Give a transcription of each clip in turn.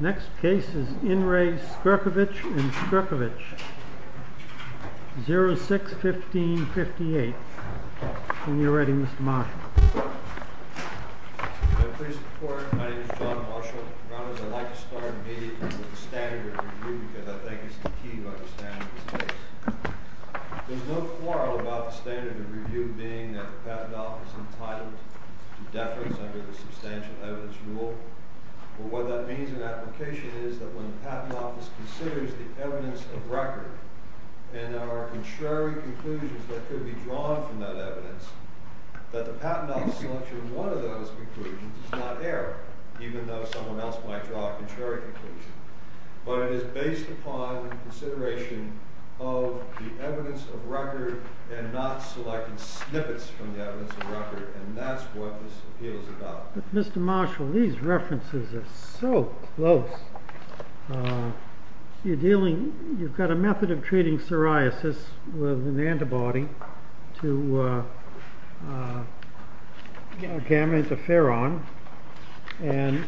Next case is In re Skrkovich and Skrkovich. 06-15-58. When you're ready, Mr. Marshall. My name is John Marshall. I'd like to start immediately with the standard of review because I think it's the key to understanding this case. There's no quarrel about the standard of review being that the patent office is entitled to deference under the substantial evidence rule. What that means in application is that when the patent office considers the evidence of record and there are contrary conclusions that could be drawn from that evidence, that the patent office selection of one of those conclusions is not error, even though someone else might draw a contrary conclusion. But it is based upon consideration of the evidence of record and not selecting snippets from the evidence of record. And that's what this appeal is about. Mr. Marshall, these references are so close. You're dealing, you've got a method of treating psoriasis with an antibody to gamma interferon. And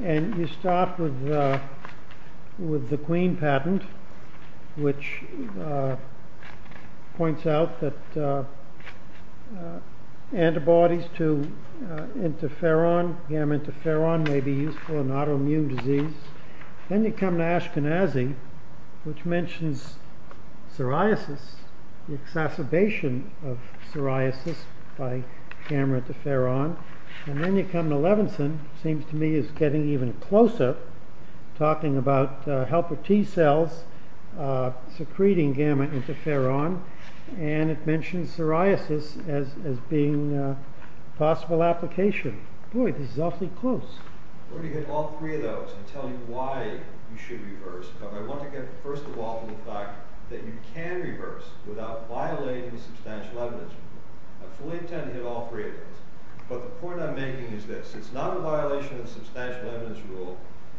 you start with the Queen patent, which points out that antibodies to interferon, gamma interferon, may be useful in autoimmune disease. Then you come to Ashkenazi, which mentions psoriasis, the exacerbation of psoriasis by gamma interferon. And then you come to Levinson, which seems to me is getting even closer, talking about helper T cells secreting gamma interferon. And it mentions psoriasis as being a possible application. Boy, this is awfully close. I've already hit all three of those and tell you why you should reverse. But I want to get first of all to the fact that you can reverse without violating the substantial evidence rule. I fully intend to hit all three of those. But the point I'm making is this. It's not a violation of the substantial evidence rule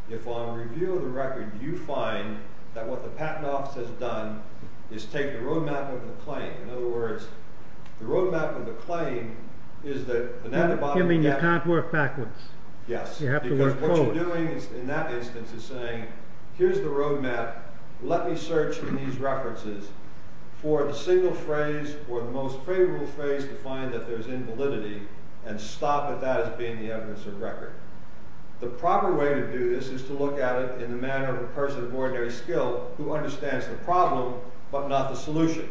if on review of the record you find that what the patent office has done is taken a road map of the claim. In other words, the road map of the claim is that the antibodies can't work backwards. You have to work forward. Yes, because what you're doing in that instance is saying, here's the road map. Let me search in these references for the single phrase or the most favorable phrase to find that there's invalidity and stop at that as being the evidence of record. The proper way to do this is to look at it in the manner of a person of ordinary skill who understands the problem but not the solution.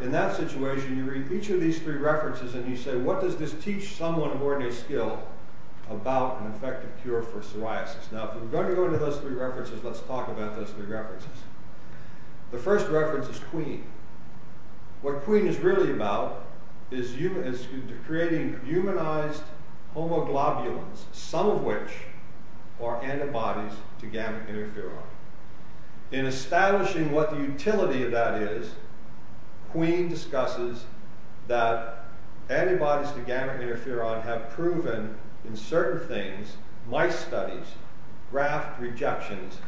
In that situation, you read each of these three references and you say, what does this teach someone of ordinary skill about an effective cure for psoriasis? Now, if we're going to go into those three references, let's talk about those three references. The first reference is Queen. What Queen is really about is creating humanized homoglobulins, some of which are antibodies to gamma interferon. In establishing what the utility of that is, Queen discusses that antibodies to gamma interferon have proven, in certain things, mice studies, graft rejections,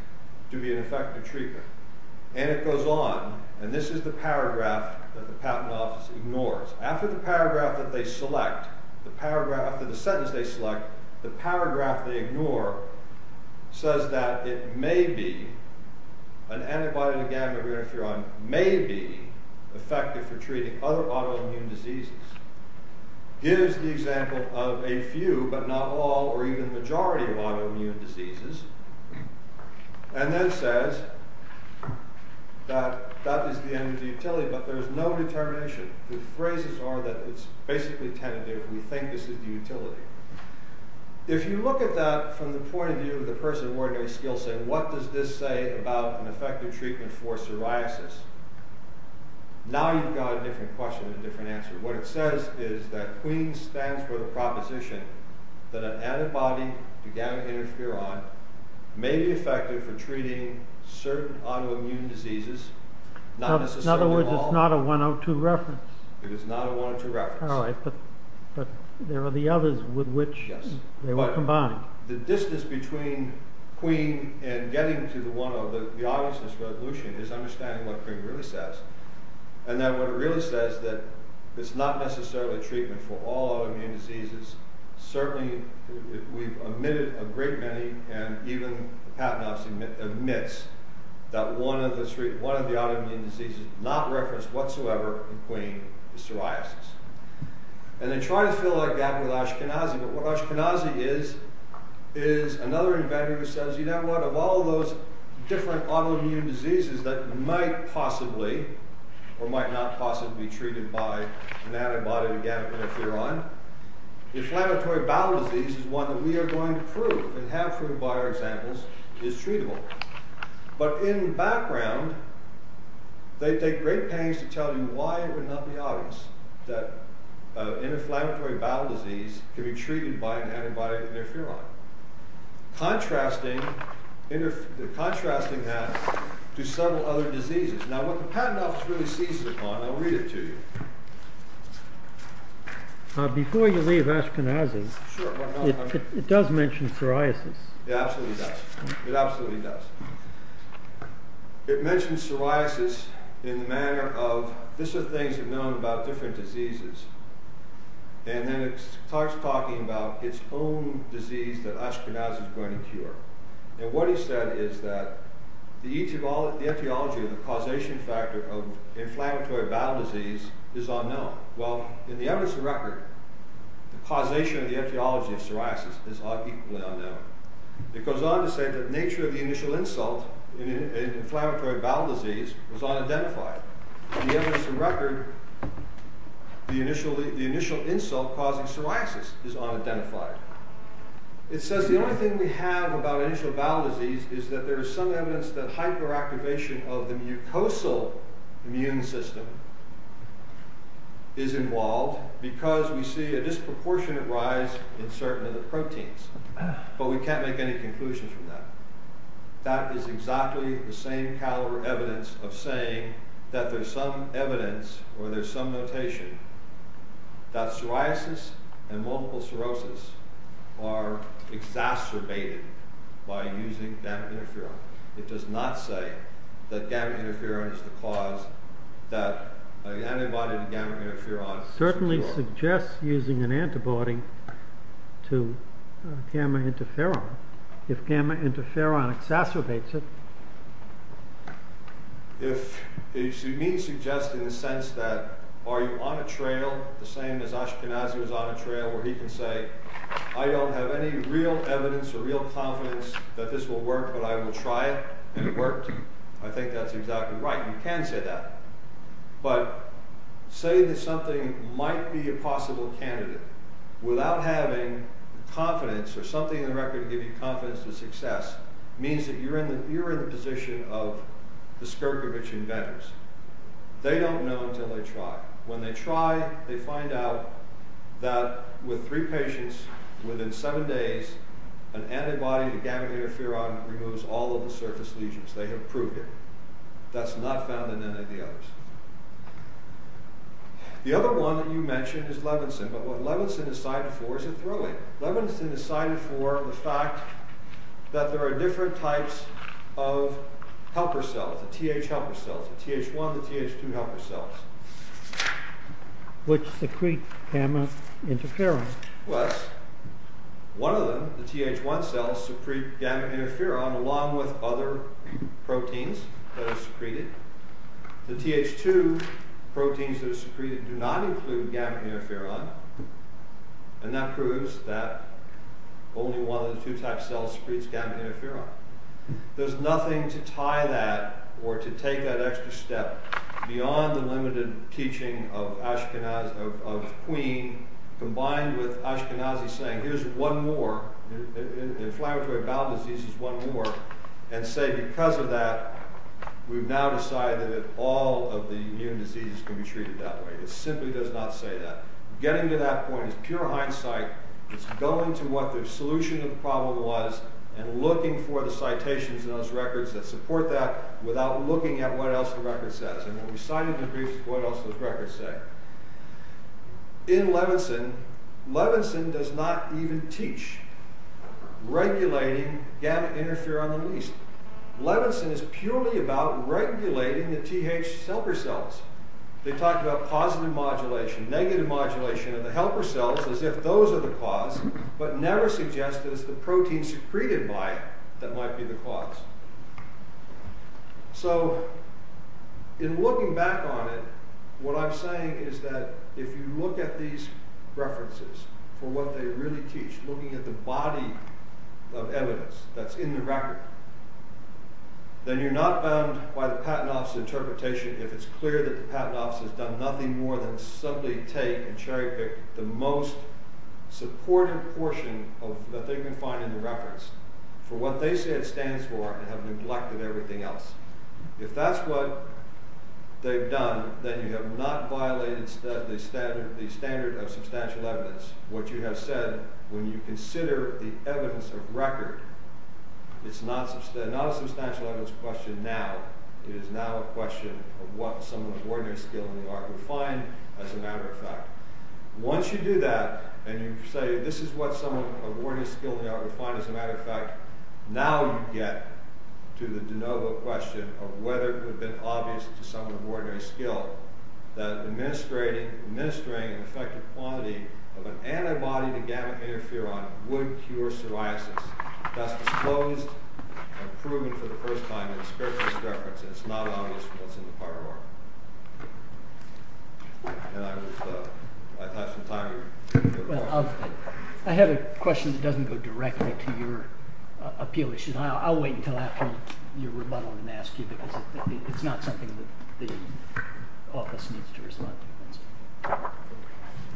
to be an effective treatment. And it goes on, and this is the paragraph that the Patent Office ignores. After the paragraph that they select, after the sentence they select, the paragraph they ignore says that it may be, an antibody to gamma interferon may be effective for treating other autoimmune diseases. It is the example of a few, but not all, or even majority of autoimmune diseases. And then says that that is the end of the utility, but there is no determination. The phrases are that it's basically tentative. We think this is the utility. If you look at that from the point of view of the person of ordinary skill set, what does this say about an effective treatment for psoriasis? Now you've got a different question and a different answer. What it says is that Queen stands for the proposition that an antibody to gamma interferon may be effective for treating certain autoimmune diseases, not necessarily all. In other words, it's not a 102 reference. It is not a 102 reference. All right, but there are the others with which they were combined. The distance between Queen and getting to the one of the obviousness resolution is understanding what Queen really says, and that what it really says is that it's not necessarily a treatment for all autoimmune diseases. Certainly we've omitted a great many, and even the Patent Office omits, that one of the autoimmune diseases not referenced whatsoever in Queen is psoriasis. And they try to fill that gap with Ashkenazi, but what Ashkenazi is is another inventor who says, you know what, of all those different autoimmune diseases that might possibly or might not possibly be treated by an antibody to gamma interferon, inflammatory bowel disease is one that we are going to prove and have proved by our examples is treatable. But in background, they take great pains to tell you why it would not be obvious that an inflammatory bowel disease can be treated by an antibody to interferon. Contrasting that to several other diseases. Now what the Patent Office really seizes upon, I'll read it to you. Before you leave Ashkenazi, it does mention psoriasis. It absolutely does. It absolutely does. It mentions psoriasis in the manner of, these are things we've known about different diseases. And then it starts talking about its own disease that Ashkenazi is going to cure. And what he said is that the etiology of the causation factor of inflammatory bowel disease is unknown. Well, in the evidence of record, the causation of the etiology of psoriasis is equally unknown. It goes on to say that the nature of the initial insult in inflammatory bowel disease was unidentified. In the evidence of record, the initial insult causing psoriasis is unidentified. It says the only thing we have about initial bowel disease is that there is some evidence that hyperactivation of the mucosal immune system is involved because we see a disproportionate rise in certain of the proteins. But we can't make any conclusions from that. That is exactly the same kind of evidence of saying that there's some evidence or there's some notation that psoriasis and multiple sclerosis are exacerbated by using gamma interferon. It does not say that gamma interferon is the cause that an antibody to gamma interferon can cure. It certainly suggests using an antibody to gamma interferon if gamma interferon exacerbates it. It may suggest in the sense that are you on a trail the same as Ashkenazi was on a trail where he can say I don't have any real evidence or real confidence that this will work but I will try it and it worked. I think that's exactly right. You can say that. But saying that something might be a possible candidate without having confidence or something in the record to give you confidence to success means that you're in the position of the Skirkovich inventors. They don't know until they try. When they try they find out that with three patients within seven days an antibody to gamma interferon removes all of the surface lesions. They have proved it. That's not found in any of the others. The other one that you mentioned is Levinson. But what Levinson decided for is a thrilling. Levinson decided for the fact that there are different types of helper cells, the Th helper cells, the Th1 and the Th2 helper cells. Which secrete gamma interferon? Well, one of them, the Th1 cells, secrete gamma interferon along with other proteins that are secreted. The Th2 proteins that are secreted do not include gamma interferon and that proves that only one of the two types of cells secretes gamma interferon. There's nothing to tie that or to take that extra step beyond the limited teaching of Queen combined with Ashkenazi saying here's one more, inflammatory bowel disease is one more and say because of that we've now decided that all of the immune diseases can be treated that way. It simply does not say that. Getting to that point is pure hindsight. It's going to what the solution of the problem was and looking for the citations in those records that support that without looking at what else the record says. And when we cited the briefs, what else does the record say? In Levinson, Levinson does not even teach regulating gamma interferon release. Levinson is purely about regulating the Th helper cells. They talk about positive modulation, negative modulation of the helper cells as if those are the cause but never suggest that it's the protein secreted by it that might be the cause. So in looking back on it, what I'm saying is that if you look at these references for what they really teach, looking at the body of evidence that's in the record, then you're not bound by the Patent Office interpretation if it's clear that the Patent Office has done nothing more than simply take and cherry pick the most supportive portion that they can find in the reference for what they say it stands for and have neglected everything else. If that's what they've done, then you have not violated the standard of substantial evidence. What you have said, when you consider the evidence of record, it's not a substantial evidence question now. It is now a question of what some of the ordinary skill in the art would find as a matter of fact. Once you do that and you say this is what some of the ordinary skill in the art would find as a matter of fact, now you get to the de novo question of whether it would have been obvious to some of the ordinary skill that administering an effective quantity of an antibody to gamma interferon would cure psoriasis. That's disclosed and proven for the first time in a spiritualist reference and it's not obvious from what's in the prior work. And I would, I'd like some time here. Well, I have a question that doesn't go directly to your appeal issue. I'll wait until after your rebuttal and ask you because it's not something that the office needs to respond to.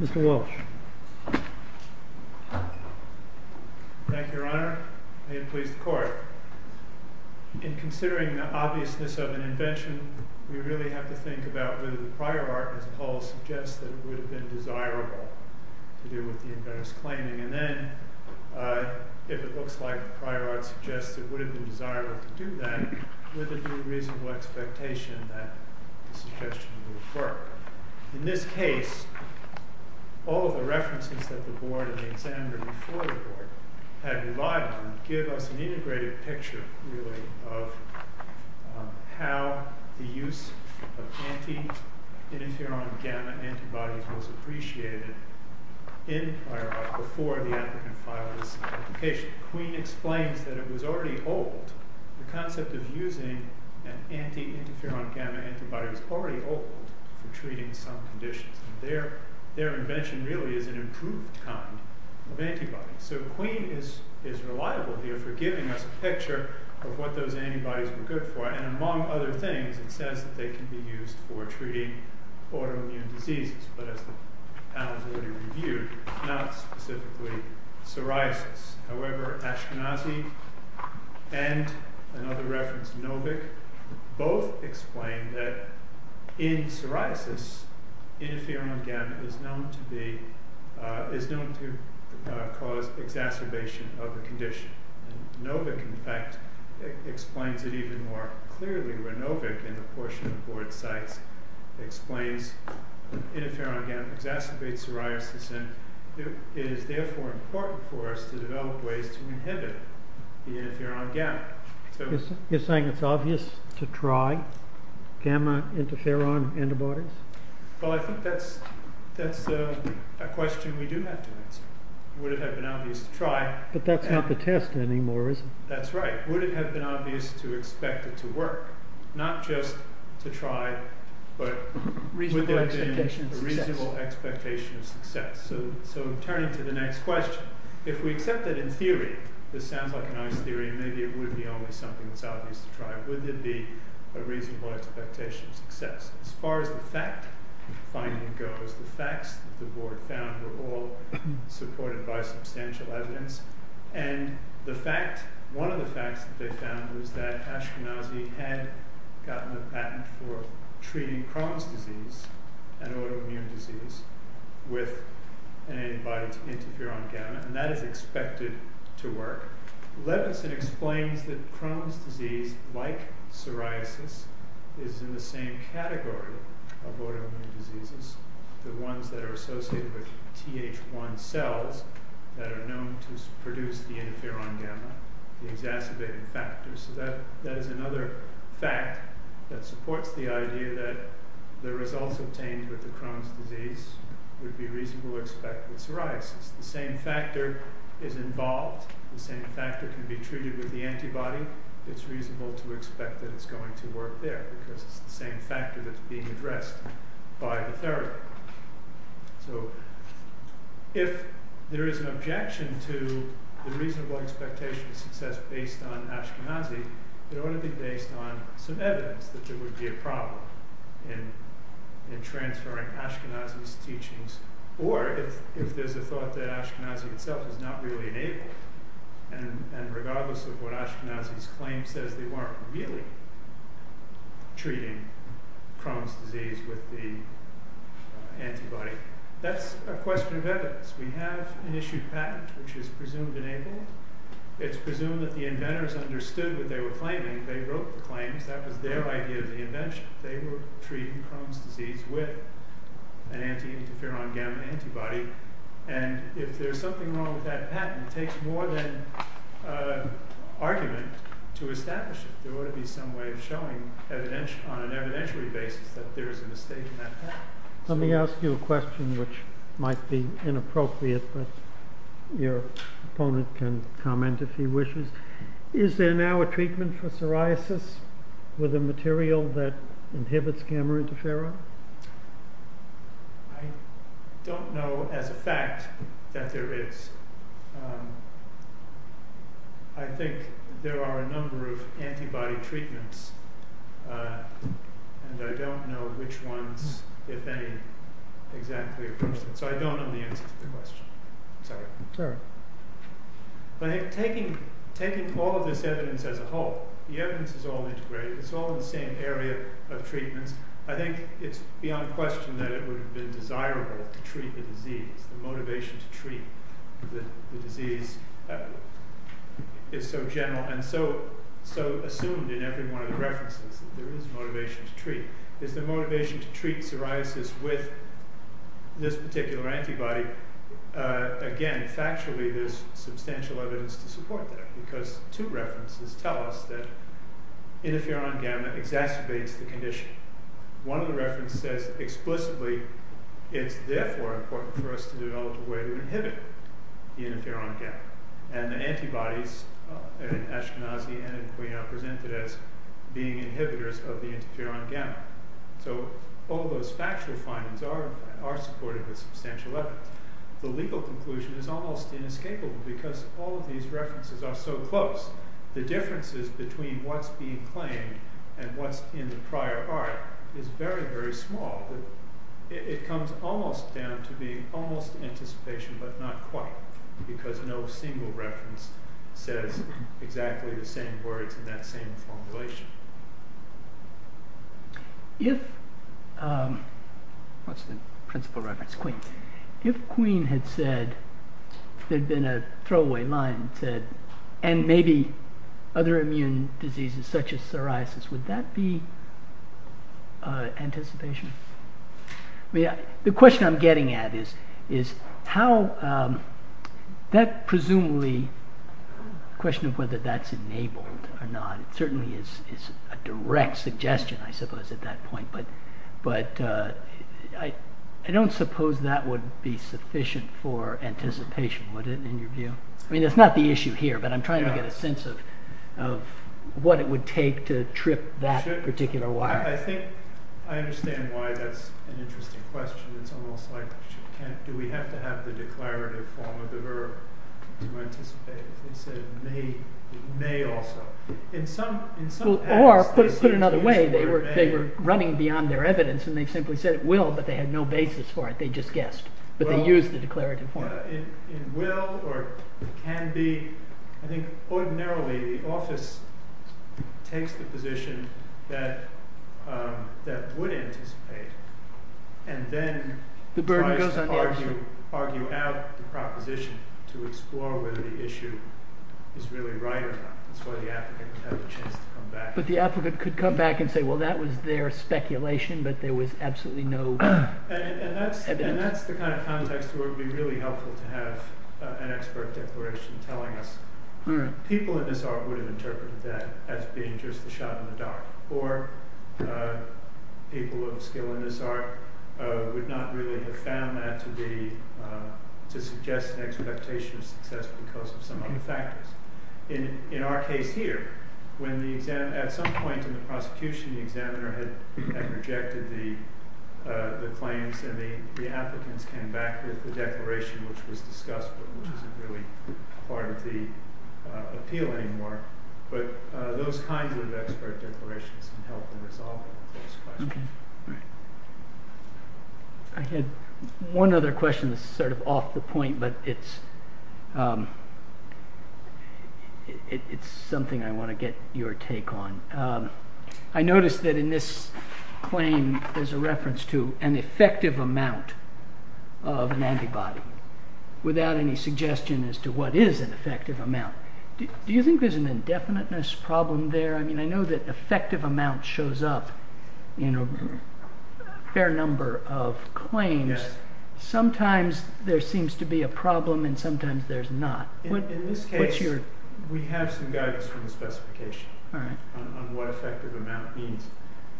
Mr. Walsh. Thank you, Your Honor. May it please the court. In considering the obviousness of an invention, we really have to think about whether the prior art as a whole suggests that it would have been desirable to do with the inventor's claiming. And then, if it looks like the prior art suggests it would have been desirable to do that, would there be a reasonable expectation that the suggestion would have worked? In this case, all of the references that the board and the examiner before the board had relied on give us an integrated picture really of how the use of anti-interferon gamma antibodies was appreciated in prior art before the applicant filed his application. Queen explains that it was already old. The concept of using an anti-interferon gamma antibody was already old for treating some conditions. Their invention really is an improved kind of antibody. So Queen is reliable here for giving us a picture of what those antibodies were good for. And among other things, it says that they can be used for treating autoimmune diseases, but as the panel has already reviewed, not specifically psoriasis. However, Ashkenazi and another reference, Novick, both explain that in psoriasis, interferon gamma is known to cause exacerbation of a condition. Novick, in fact, explains it even more clearly where Novick in the portion of the board cites explains interferon gamma exacerbates psoriasis and is therefore important for us to develop ways to inhibit the interferon gamma. You're saying it's obvious to try gamma interferon antibodies? Well, I think that's a question we do have to answer. Would it have been obvious to try? But that's not the test anymore, is it? That's right. Would it have been obvious to expect it to work? Not just to try, but would there have been a reasonable expectation of success? So turning to the next question, if we accept that in theory, this sounds like an honest theory, maybe it would be only something that's obvious to try. Would there be a reasonable expectation of success? As far as the fact finding goes, the facts that the board found were all supported by substantial evidence. One of the facts that they found was that Ashkenazi had gotten a patent for treating Crohn's disease, an autoimmune disease, with an antibody to interferon gamma, and that is expected to work. Levinson explains that Crohn's disease, like psoriasis, is in the same category of autoimmune diseases, the ones that are associated with Th1 cells that are known to produce the interferon gamma, the exacerbating factors. So that is another fact that supports the idea that the results obtained with the Crohn's disease would be reasonable to expect with psoriasis. The same factor is involved. The same factor can be treated with the antibody. It's reasonable to expect that it's going to work there, because it's the same factor that's being addressed by the therapy. So if there is an objection to the reasonable expectation of success based on Ashkenazi, it ought to be based on some evidence that there would be a problem in transferring Ashkenazi's teachings, or if there's a thought that Ashkenazi itself is not really enabled, and regardless of what Ashkenazi's claim says, they weren't really. treating Crohn's disease with the antibody. That's a question of evidence. We have an issued patent which is presumed enabled. It's presumed that the inventors understood what they were claiming. They wrote the claims. That was their idea of the invention. They were treating Crohn's disease with an anti-interferon gamma antibody. And if there's something wrong with that patent, it takes more than argument to establish it. There ought to be some way of showing on an evidentiary basis that there is a mistake in that patent. Let me ask you a question which might be inappropriate, but your opponent can comment if he wishes. Is there now a treatment for psoriasis with a material that inhibits gamma interferon? I don't know as a fact that there is. I think there are a number of antibody treatments, and I don't know which ones, if any, exactly. So I don't know the answer to the question. I'm sorry. Sure. But taking all of this evidence as a whole, the evidence is all integrated. It's all in the same area of treatments. I think it's beyond question that it would have been desirable to treat the disease, the motivation to treat the disease is so general and so assumed in every one of the references that there is motivation to treat. Is the motivation to treat psoriasis with this particular antibody, again, factually there's substantial evidence to support that because two references tell us that interferon gamma exacerbates the condition. One of the references says explicitly it's therefore important for us to develop a way to inhibit the interferon gamma and the antibodies in Ashkenazi and in Quina are presented as being inhibitors of the interferon gamma. So all those factual findings are supported with substantial evidence. The legal conclusion is almost inescapable because all of these references are so close. The differences between what's being claimed and what's in the prior art is very, very small. It comes almost down to being almost anticipation but not quite because no single reference says exactly the same words in that same formulation. What's the principal reference? Queen. If Queen had said there'd been a throwaway line and maybe other immune diseases such as psoriasis, would that be anticipation? The question I'm getting at is how that presumably question of whether that's enabled or not. It certainly is a direct suggestion, I suppose, at that point. But I don't suppose that would be sufficient for anticipation, would it, in your view? I mean, that's not the issue here, but I'm trying to get a sense of what it would take to trip that particular wire. I think I understand why that's an interesting question. It's almost like do we have to have the declarative form of the verb to anticipate? They said it may also. Or, put another way, they were running beyond their evidence and they simply said it will, but they had no basis for it. They just guessed, but they used the declarative form. In will or can be, I think ordinarily the office takes the position that would anticipate and then tries to argue out the proposition to explore whether the issue is really right or not. That's why the applicant would have a chance to come back. But the applicant could come back and say, well, that was their speculation, but there was absolutely no evidence. And that's the kind of context where it would be really helpful to have an expert declaration telling us. People in this art would have interpreted that as being just a shot in the dark. Or people of skill in this art would not really have found that to suggest an expectation of success because of some other factors. In our case here, at some point in the prosecution, the examiner had rejected the claims and the applicants came back with the declaration which was discussed, but which isn't really part of the appeal anymore. But those kinds of expert declarations can help them resolve those questions. I had one other question that's sort of off the point, but it's something I want to get your take on. I noticed that in this claim, there's a reference to an effective amount of an antibody without any suggestion as to what is an effective amount. Do you think there's an indefiniteness problem there? I know that effective amount shows up in a fair number of claims. Sometimes there seems to be a problem and sometimes there's not. In this case, we have some guidance from the specification on what effective amount means.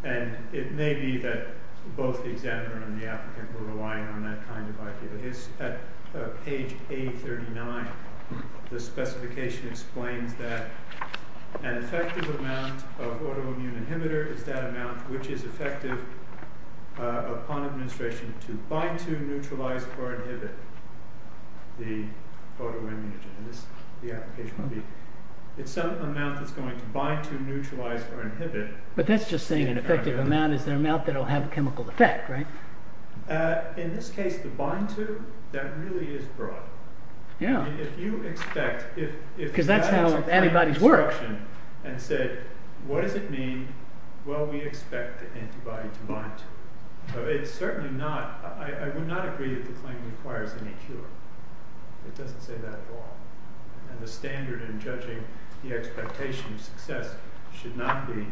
And it may be that both the examiner and the applicant were relying on that kind of idea. At page 839, the specification explains that an effective amount of autoimmune inhibitor is that amount which is effective upon administration to bind to, neutralize, or inhibit the autoimmune agent. It's some amount that's going to bind to, neutralize, or inhibit. But that's just saying an effective amount is an amount that will have a chemical effect, right? In this case, the bind to, that really is broad. If you expect... Because that's how antibodies work. ...and said, what does it mean? Well, we expect the antibody to bind to. It's certainly not, I would not agree that the claim requires any cure. It doesn't say that at all. And the standard in judging the expectation of success should not be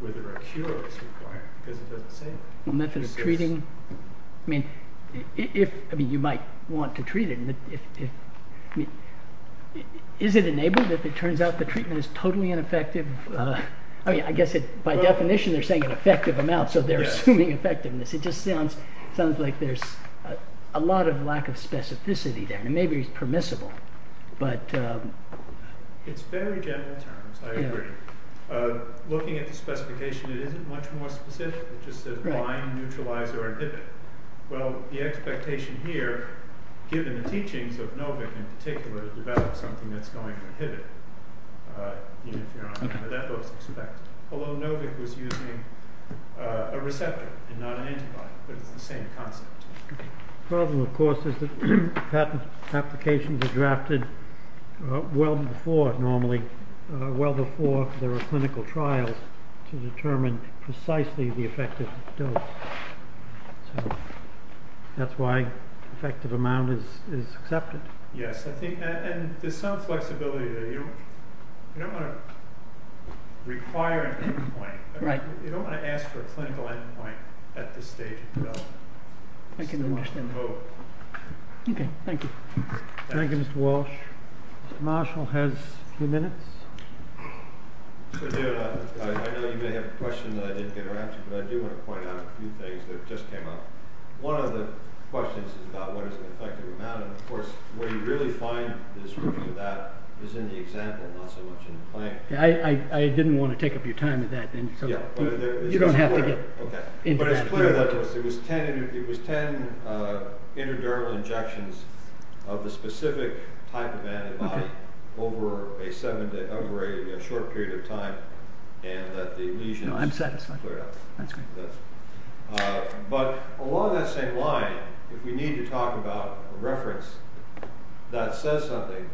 whether a cure is required, because it doesn't say that. The method of treating... I mean, you might want to treat it. Is it enabled if it turns out the treatment is totally ineffective? I mean, I guess by definition they're saying an effective amount, so they're assuming effectiveness. It just sounds like there's a lot of lack of specificity there. And maybe it's permissible. It's very general terms, I agree. Looking at the specification, it isn't much more specific. It just says bind, neutralize, or inhibit. Well, the expectation here, given the teachings of Novick in particular, to develop something that's going to inhibit, even if you're not sure that's what's expected. Although Novick was using a receptor and not an antibody, but it's the same concept. The problem, of course, is that patent applications are drafted well before, normally, well before there are clinical trials to determine precisely the effective dose. So that's why effective amount is accepted. Yes, and there's some flexibility there. You don't want to require an endpoint. You don't want to ask for a clinical endpoint at this stage. I can understand that. Okay, thank you. Thank you, Mr. Walsh. Mr. Marshall has a few minutes. I know you may have a question that I didn't get around to, but I do want to point out a few things that just came up. One of the questions is about what is an effective amount, and of course, where you really find this review of that is in the example, not so much in the claim. I didn't want to take up your time with that. You don't have to get into that. But it's clear that it was ten interdermal injections of the specific type of antibody over a short period of time, and that the lesions cleared up. No, I'm satisfied. That's great. But along that same line, if we need to talk about a reference that says something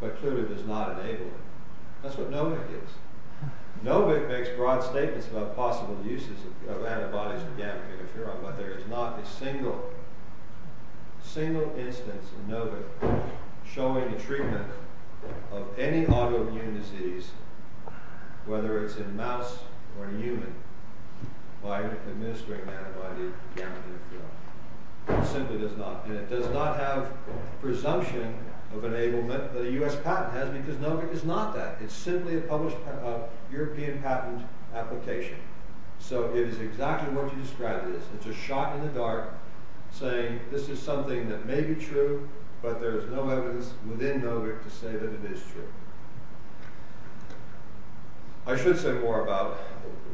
but clearly does not enable it, that's what Novick is. Novick makes broad statements about possible uses of antibodies to gamma-beta-feron, but there is not a single instance in Novick showing a treatment of any autoimmune disease, whether it's in a mouse or a human, by administering an antibody to gamma-beta-feron. It simply does not. And it does not have presumption of enablement that a U.S. patent has, because Novick is not that. It's simply a published European patent application. So it is exactly what you described it as. It's a shot in the dark saying this is something that may be true, but there is no evidence within Novick to say that it is true. I should say more about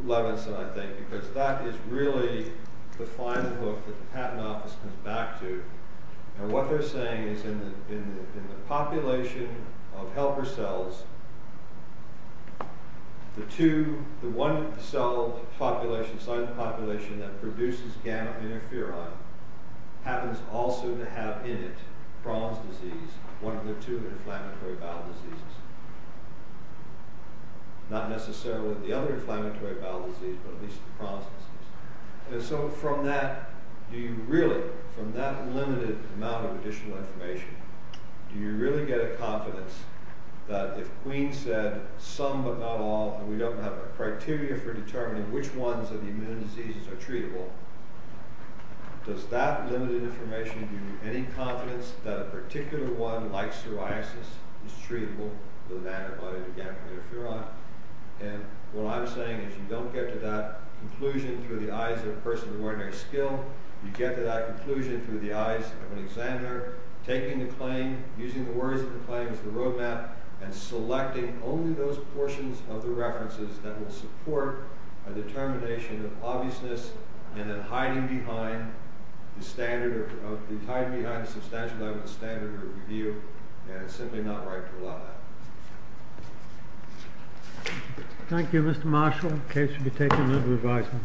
Levinson, I think, because that is really the final hook that the patent office comes back to. And what they're saying is in the population of helper cells, the one cell population, the silent population that produces gamma-beta-feron, happens also to have in it Crohn's disease, one of the two inflammatory bowel diseases. Not necessarily the other inflammatory bowel disease, but at least the Crohn's disease. So from that limited amount of additional information, do you really get a confidence that if Queen said some but not all, and we don't have a criteria for determining which ones of the immune diseases are treatable, does that limited information give you any confidence that a particular one like psoriasis is treatable with an antibody to gamma-beta-feron? And what I'm saying is you don't get to that conclusion through the eyes of a person of ordinary skill. You get to that conclusion through the eyes of an examiner taking the claim, using the words of the claim as the road map, and selecting only those portions of the references that will support a determination of obviousness and then hiding behind the substantial level of the standard of review. And it's simply not right to allow that. Thank you, Mr. Marshall. Case will be taken under revisal.